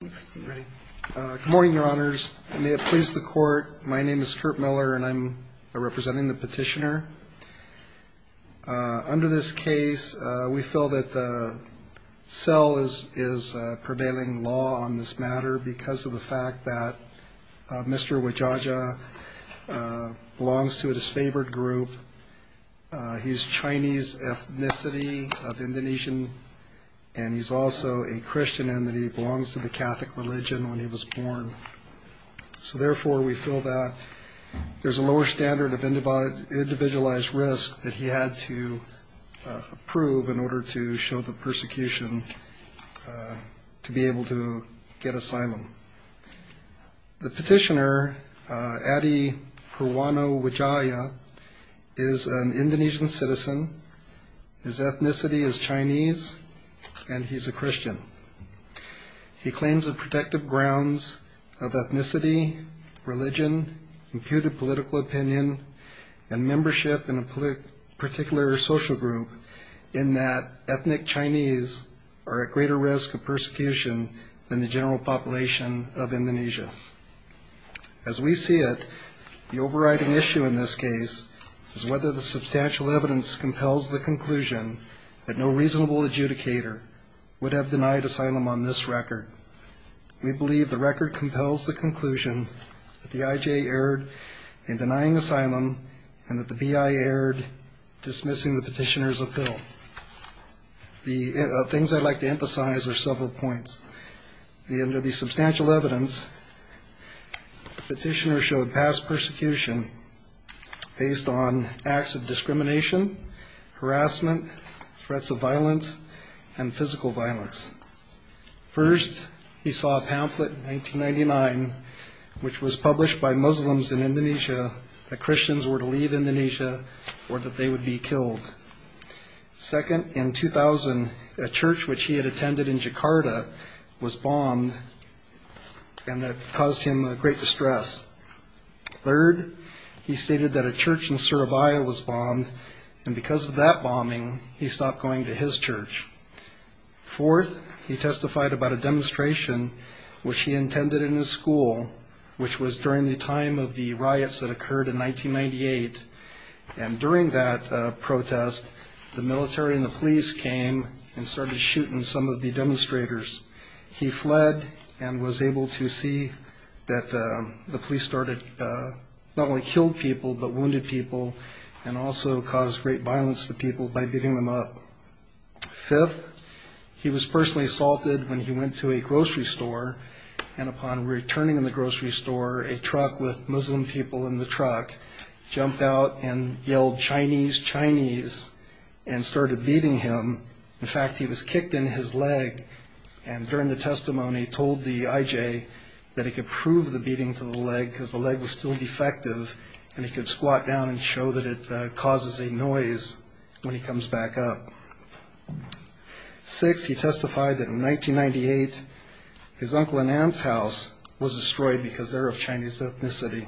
Good morning, your honors. May it please the court, my name is Kurt Miller and I'm representing the petitioner. Under this case, we feel that the cell is prevailing law on this matter because of the fact that Mr. Widjaja belongs to a disfavored group. He's Chinese ethnicity of Indonesian and he's also a Christian and that he belongs to the Catholic religion when he was born. So therefore, we feel that there's a lower standard of individualized risk that he had to approve in order to show the persecution to be able to get asylum. The petitioner, Adi Perwano Widjaya, is an Indonesian citizen, his ethnicity is Chinese, and he's a Christian. He claims the protective grounds of ethnicity, religion, imputed political opinion, and membership in a particular social group in that ethnic Chinese are at greater risk of persecution than the general population of Indonesia. As we see it, the overriding issue in this case is whether the substantial evidence compels the conclusion that no reasonable adjudicator would have denied asylum on this record. We believe the record compels the conclusion that the IJ erred in denying asylum and that the BI erred dismissing the petitioner's appeal. The things I'd like to emphasize are several points. Under the substantial evidence, the petitioner showed past persecution based on acts of discrimination, harassment, threats of violence, and physical violence. First, he saw a pamphlet in 1999 which was published by Muslims in Indonesia that Christians were to leave Indonesia or that they would be killed. Second, in 2000, a church which he had attended in Jakarta was bombed and that caused him great distress. Third, he stated that a church in Surabaya was bombed, and because of that bombing, he stopped going to his church. Fourth, he testified about a demonstration which he intended in his school, which was during the time of the riots that occurred in 1998. And during that protest, the military and the police came and started shooting some of the demonstrators. He fled and was able to see that the police not only killed people but wounded people and also caused great violence to people by beating them up. Fifth, he was personally assaulted when he went to a grocery store, and upon returning in the grocery store, a truck with Muslim people in the truck jumped out and yelled, Chinese, Chinese, and started beating him. In fact, he was kicked in his leg, and during the testimony, told the IJ that he could prove the beating to the leg because the leg was still defective, and he could squat down and show that it causes a noise when he comes back up. Sixth, he testified that in 1998, his uncle and aunt's house was destroyed because they were of Chinese ethnicity.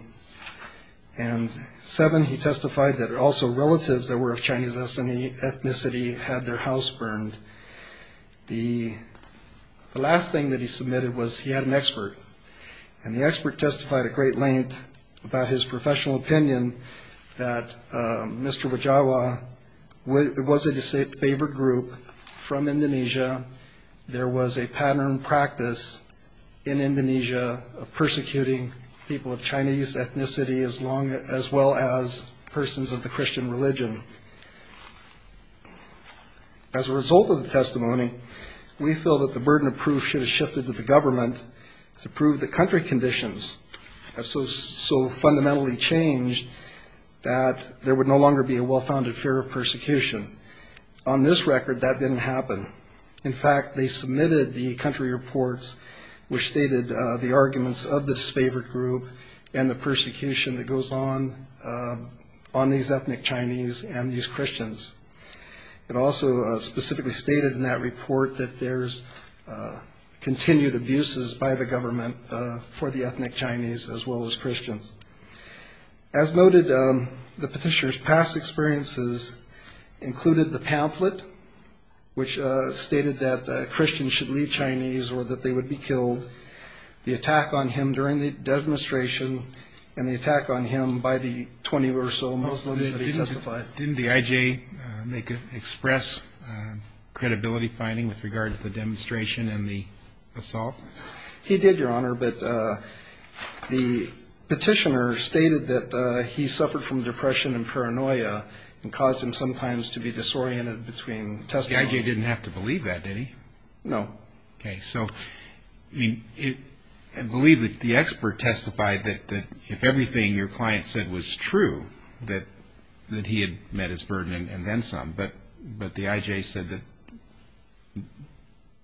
And seventh, he testified that also relatives that were of Chinese ethnicity had their house burned. The last thing that he submitted was he had an expert, and the expert testified at great length about his professional opinion that Mr. Wajawa was a disfavored group from Indonesia. There was a pattern practice in Indonesia of persecuting people of Chinese ethnicity as well as persons of the Christian religion. As a result of the testimony, we feel that the burden of proof should have shifted to the government to prove that country conditions have so fundamentally changed that there would no longer be a well-founded fear of persecution. On this record, that didn't happen. In fact, they submitted the country reports which stated the arguments of the disfavored group and the persecution that goes on on these ethnic Chinese and these Christians. It also specifically stated in that report that there's continued abuses by the government for the ethnic Chinese as well as Christians. As noted, the petitioner's past experiences included the pamphlet which stated that Christians should leave Chinese or that they would be killed, the attack on him during the demonstration, and the attack on him by the 20 or so Muslims that he testified. Didn't the IJ express credibility finding with regard to the demonstration and the assault? He did, Your Honor. But the petitioner stated that he suffered from depression and paranoia and caused him sometimes to be disoriented between testimony. The IJ didn't have to believe that, did he? No. Okay. So I believe that the expert testified that if everything your client said was true, that he had met his burden and then some. But the IJ said that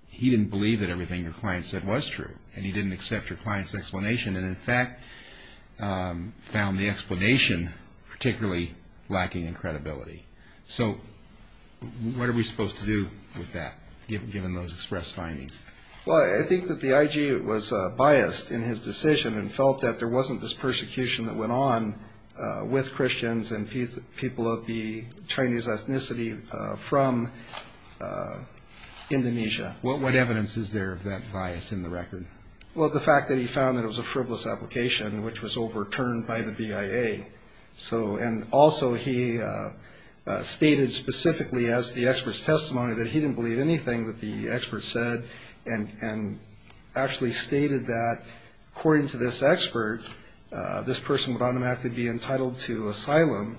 he didn't believe that everything your client said was true and he didn't accept your client's explanation and in fact found the explanation particularly lacking in credibility. So what are we supposed to do with that, given those express findings? Well, I think that the IJ was biased in his decision and felt that there wasn't this persecution that went on with Christians and people of the Chinese ethnicity from Indonesia. What evidence is there of that bias in the record? Well, the fact that he found that it was a frivolous application which was overturned by the BIA. And also he stated specifically as the expert's testimony that he didn't believe anything that the expert said and actually stated that according to this expert, this person would automatically be entitled to asylum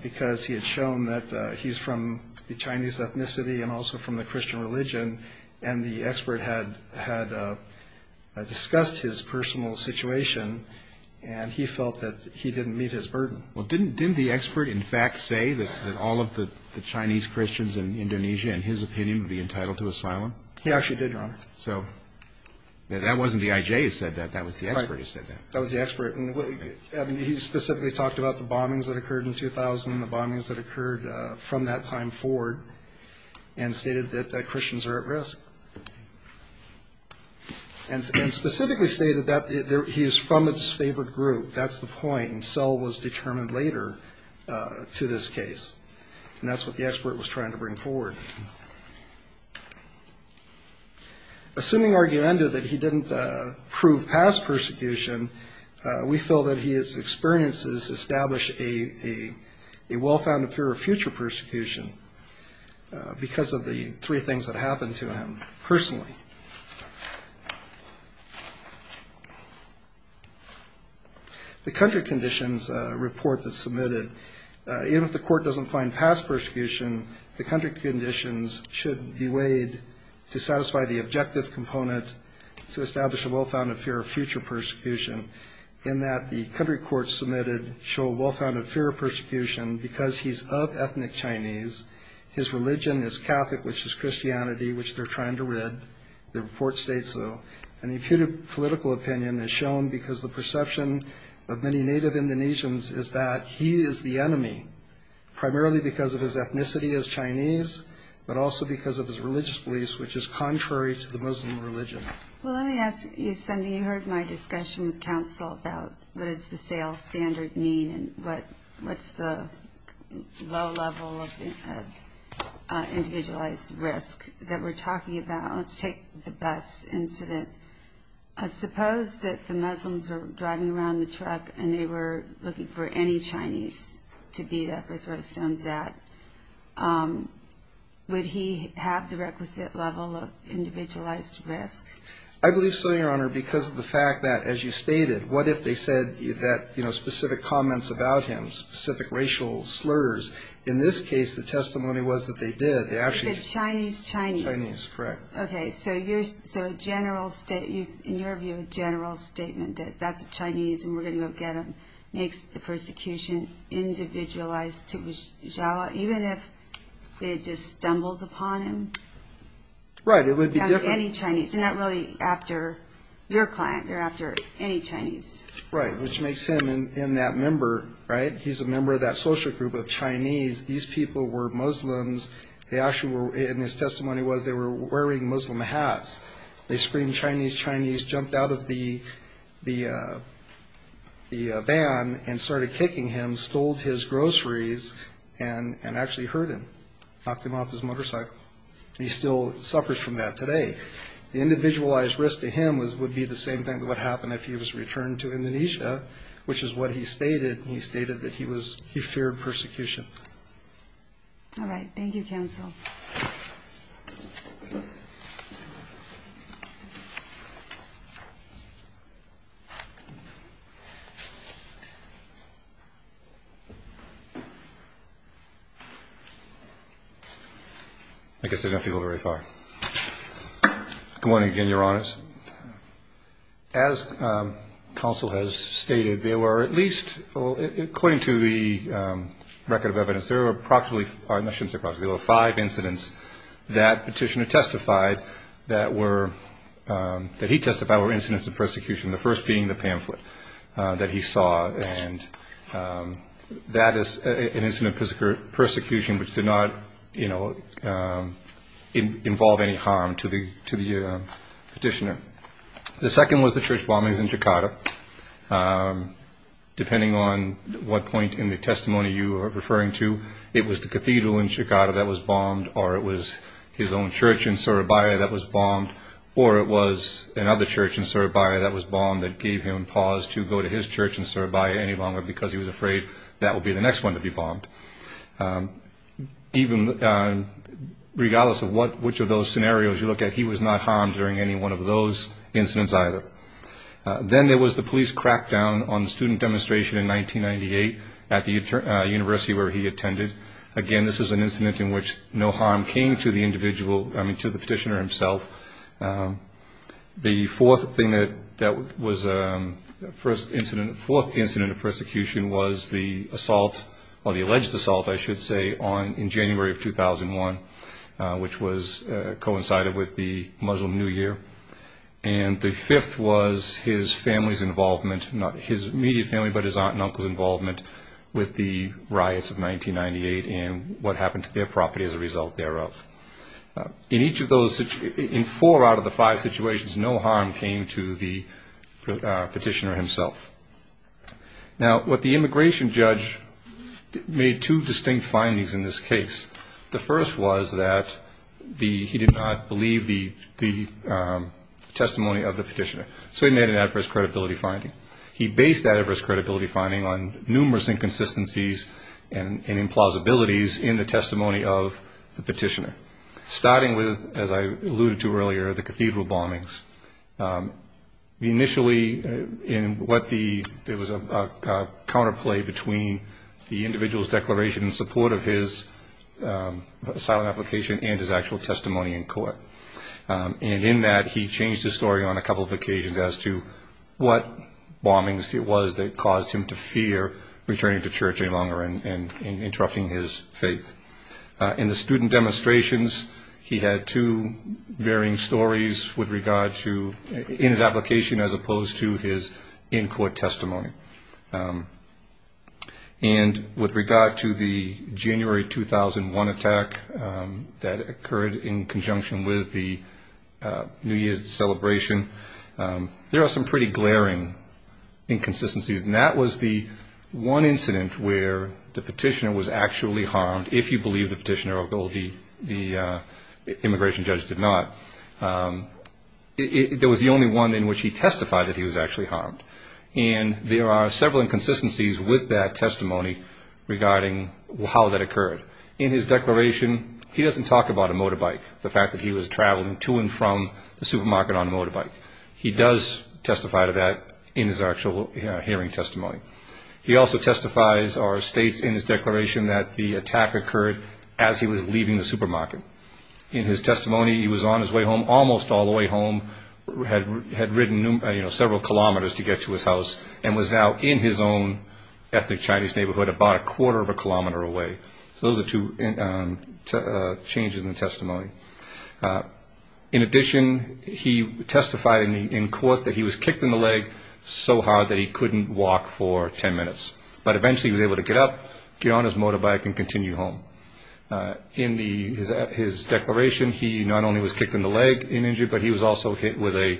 because he had shown that he's from the Chinese ethnicity and also from the Christian religion and the expert had discussed his personal situation and he felt that he didn't meet his burden. Well, didn't the expert in fact say that all of the Chinese Christians in Indonesia, in his opinion, would be entitled to asylum? He actually did, Your Honor. So that wasn't the IJ who said that. That was the expert who said that. That was the expert. He specifically talked about the bombings that occurred in 2000 and the bombings that occurred from that time forward and stated that Christians are at risk. And specifically stated that he is from its favorite group. That's the point. And so was determined later to this case. And that's what the expert was trying to bring forward. Assuming argumenta that he didn't prove past persecution, we feel that his experiences established a well-founded fear of future persecution because of the three things that happened to him personally. The country conditions report that's submitted, even if the court doesn't find past persecution, the country conditions should be weighed to satisfy the objective component to establish a well-founded fear of future persecution, in that the country courts submitted show a well-founded fear of persecution because he's of ethnic Chinese, his religion is Catholic, which is Christianity, which they're trying to rid. The report states so. And the political opinion is shown because the perception of many native Indonesians is that he is the enemy, primarily because of his ethnicity as Chinese, but also because of his religious beliefs, which is contrary to the Muslim religion. Well, let me ask you something. You heard my discussion with counsel about what does the sales standard mean and what's the low level of individualized risk that we're talking about. Let's take the bus incident. Suppose that the Muslims were driving around the truck and they were looking for any Chinese to beat up or throw stones at. Would he have the requisite level of individualized risk? I believe so, Your Honor, because of the fact that, as you stated, what if they said that specific comments about him, specific racial slurs. In this case, the testimony was that they did. They said Chinese, Chinese. Chinese, correct. Okay. So in your view, a general statement that that's a Chinese and we're going to go get him makes the persecution individualized. Even if they just stumbled upon him. Right. It would be different. Any Chinese. Not really after your client. They're after any Chinese. Right. Which makes him in that member, right, he's a member of that social group of Chinese. These people were Muslims. They actually were, and his testimony was they were wearing Muslim hats. They screamed Chinese, Chinese, jumped out of the van and started kicking him, stole his groceries, and actually hurt him, knocked him off his motorcycle. He still suffers from that today. The individualized risk to him would be the same thing that would happen if he was returned to Indonesia, which is what he stated. He stated that he feared persecution. All right. Thank you, counsel. I guess I don't have to go very far. Good morning again, Your Honors. As counsel has stated, there were at least, according to the record of evidence, there were approximately, I shouldn't say approximately, there were five incidents that Petitioner testified that were, that he testified were incidents of persecution, the first being the pamphlet that he saw. And that is an incident of persecution which did not, you know, involve any harm to the Petitioner. Depending on what point in the testimony you are referring to, it was the cathedral in Jakarta that was bombed, or it was his own church in Surabaya that was bombed, or it was another church in Surabaya that was bombed that gave him pause to go to his church in Surabaya any longer because he was afraid that would be the next one to be bombed. Even regardless of which of those scenarios you look at, he was not harmed during any one of those incidents either. Then there was the police crackdown on the student demonstration in 1998 at the university where he attended. Again, this was an incident in which no harm came to the individual, I mean to the Petitioner himself. The fourth thing that was, the fourth incident of persecution was the assault, or the alleged assault, I should say, in January of 2001, which coincided with the Muslim New Year. And the fifth was his family's involvement, not his immediate family, but his aunt and uncle's involvement with the riots of 1998 and what happened to their property as a result thereof. In each of those, in four out of the five situations, no harm came to the Petitioner himself. Now, what the immigration judge made two distinct findings in this case. The first was that he did not believe the testimony of the Petitioner, so he made an adverse credibility finding. He based that adverse credibility finding on numerous inconsistencies and implausibilities in the testimony of the Petitioner, starting with, as I alluded to earlier, the cathedral bombings. Initially, there was a counterplay between the individual's declaration in support of his asylum application and his actual testimony in court. And in that, he changed his story on a couple of occasions as to what bombings it was that caused him to fear returning to church any longer and interrupting his faith. In the student demonstrations, he had two varying stories in his application as opposed to his in-court testimony. And with regard to the January 2001 attack that occurred in conjunction with the New Year's celebration, there are some pretty glaring inconsistencies, and that was the one incident where the Petitioner was actually harmed, if you believe the Petitioner, although the immigration judge did not. There was the only one in which he testified that he was actually harmed, and there are several inconsistencies with that testimony regarding how that occurred. In his declaration, he doesn't talk about a motorbike, the fact that he was traveling to and from the supermarket on a motorbike. He does testify to that in his actual hearing testimony. He also testifies or states in his declaration that the attack occurred as he was leaving the supermarket. In his testimony, he was on his way home, almost all the way home, had ridden several kilometers to get to his house, and was now in his own ethnic Chinese neighborhood about a quarter of a kilometer away. So those are two changes in the testimony. In addition, he testified in court that he was kicked in the leg so hard that he couldn't walk for 10 minutes, but eventually he was able to get up, get on his motorbike, and continue home. In his declaration, he not only was kicked in the leg and injured, but he was also hit with a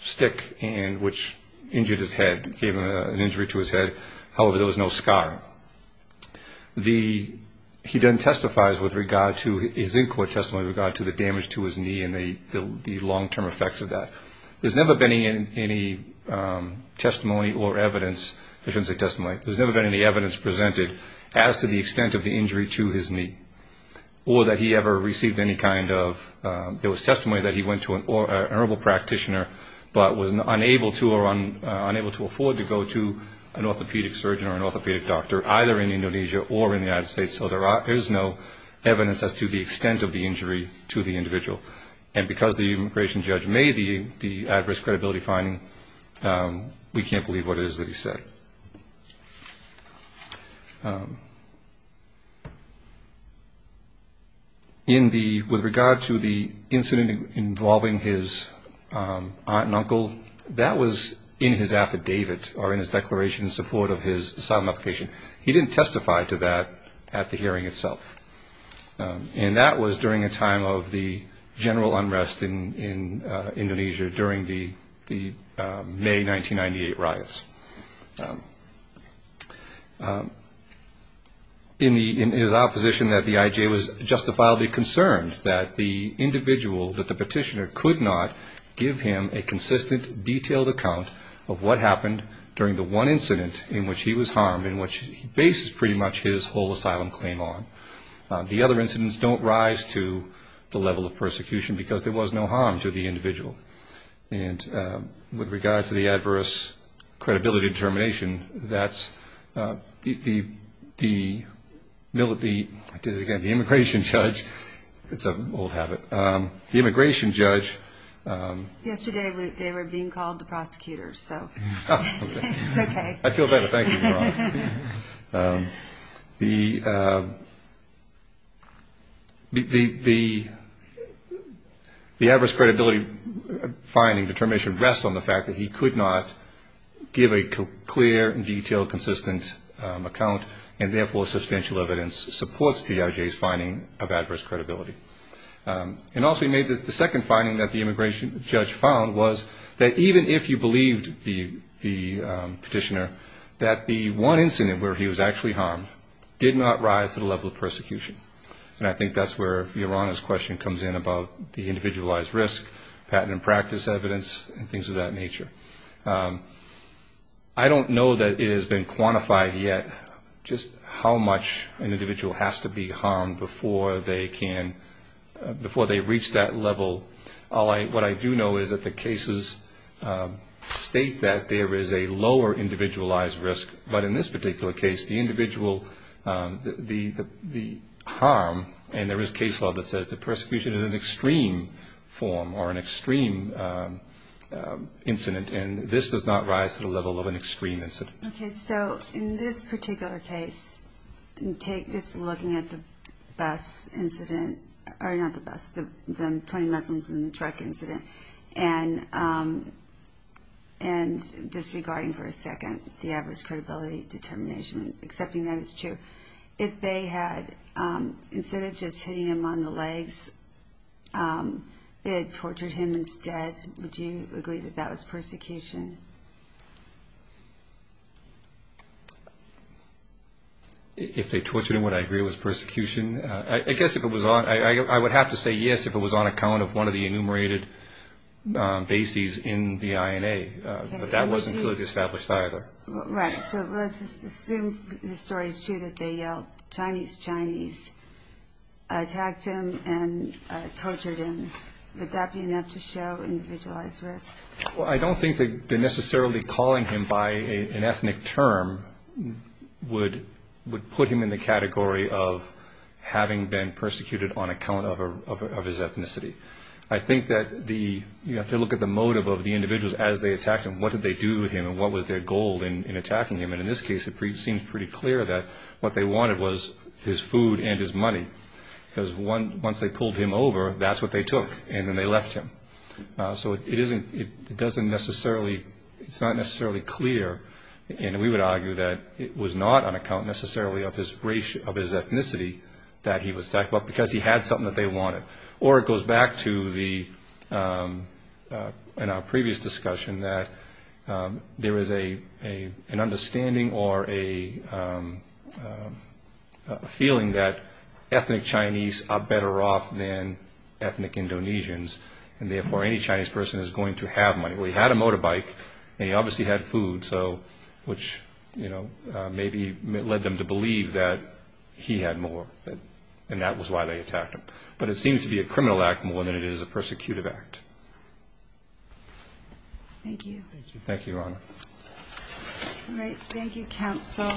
stick, which injured his head, gave an injury to his head. However, there was no scar. He then testifies with regard to his in-court testimony with regard to the damage to his knee and the long-term effects of that. There's never been any testimony or evidence, forensic testimony, there's never been any evidence presented as to the extent of the injury to his knee, or that he ever received any kind of... There was testimony that he went to an honorable practitioner, but was unable to or unable to afford to go to an orthopedic surgeon or an orthopedic doctor, either in Indonesia or in the United States, so there is no evidence as to the extent of the injury to the individual. And because the immigration judge made the adverse credibility finding, we can't believe what it is that he said. With regard to the incident involving his aunt and uncle, that was in his affidavit or in his declaration in support of his asylum application. He didn't testify to that at the hearing itself, and that was during a time of the general unrest in Indonesia during the May 1998 riots. In his opposition that the IJ was justifiably concerned that the individual, that the petitioner could not give him a consistent, detailed account of what happened during the one incident in which he was harmed, in which he bases pretty much his whole asylum claim on. The other incidents don't rise to the level of persecution, because there was no harm to the individual. And with regard to the adverse credibility determination, that's the immigration judge, it's an old habit, the immigration judge. Yesterday they were being called the prosecutors, so it's okay. I feel better, thank you. The adverse credibility finding determination rests on the fact that he could not give a clear, detailed, consistent account, and therefore substantial evidence supports the IJ's finding of adverse credibility. And also he made the second finding that the immigration judge found was that even if you believed the petitioner, that the one incident where he was actually harmed did not rise to the level of persecution. And I think that's where Yorana's question comes in about the individualized risk, patent and practice evidence, and things of that nature. I don't know that it has been quantified yet just how much an individual has to be harmed before they can, before they reach that level. All I, what I do know is that the cases state that there is a lower individualized risk, but in this particular case the individual, the harm, and there is case law that says the persecution is an extreme form or an extreme incident, and this does not rise to the level of an extreme incident. Okay, so in this particular case, take this looking at the bus incident, or not the bus, the 20 Muslims in the truck incident, and disregarding for a second the adverse credibility determination, accepting that it's true. If they had, instead of just hitting him on the legs, they had tortured him instead, would you agree that that was persecution? If they tortured him, would I agree it was persecution? I guess if it was on, I would have to say yes if it was on account of one of the enumerated bases in the INA, but that wasn't clearly established either. Right, so let's just assume the story is true that they yelled Chinese, Chinese, attacked him and tortured him, would that be enough to show individualized risk? Well, I don't think that necessarily calling him by an ethnic term would put him in the category of having been persecuted on account of his ethnicity. I think that you have to look at the motive of the individuals as they attacked him, what did they do to him, and what was their goal in attacking him, and in this case it seems pretty clear that what they wanted was his food and his money, because once they pulled him over, that's what they took, and then they left him. So it doesn't necessarily, it's not necessarily clear, and we would argue that it was not on account necessarily of his ethnicity that he was attacked, but because he had something that they wanted. Or it goes back to the, in our previous discussion, that there is an understanding or a feeling that ethnic Chinese are better off than ethnic Indonesians, and therefore any Chinese person is going to have money. Well, he had a motorbike and he obviously had food, which maybe led them to believe that he had more, and that was why they attacked him. But it seems to be a criminal act more than it is a persecutive act. Thank you. Thank you, Your Honor. Thank you, counsel.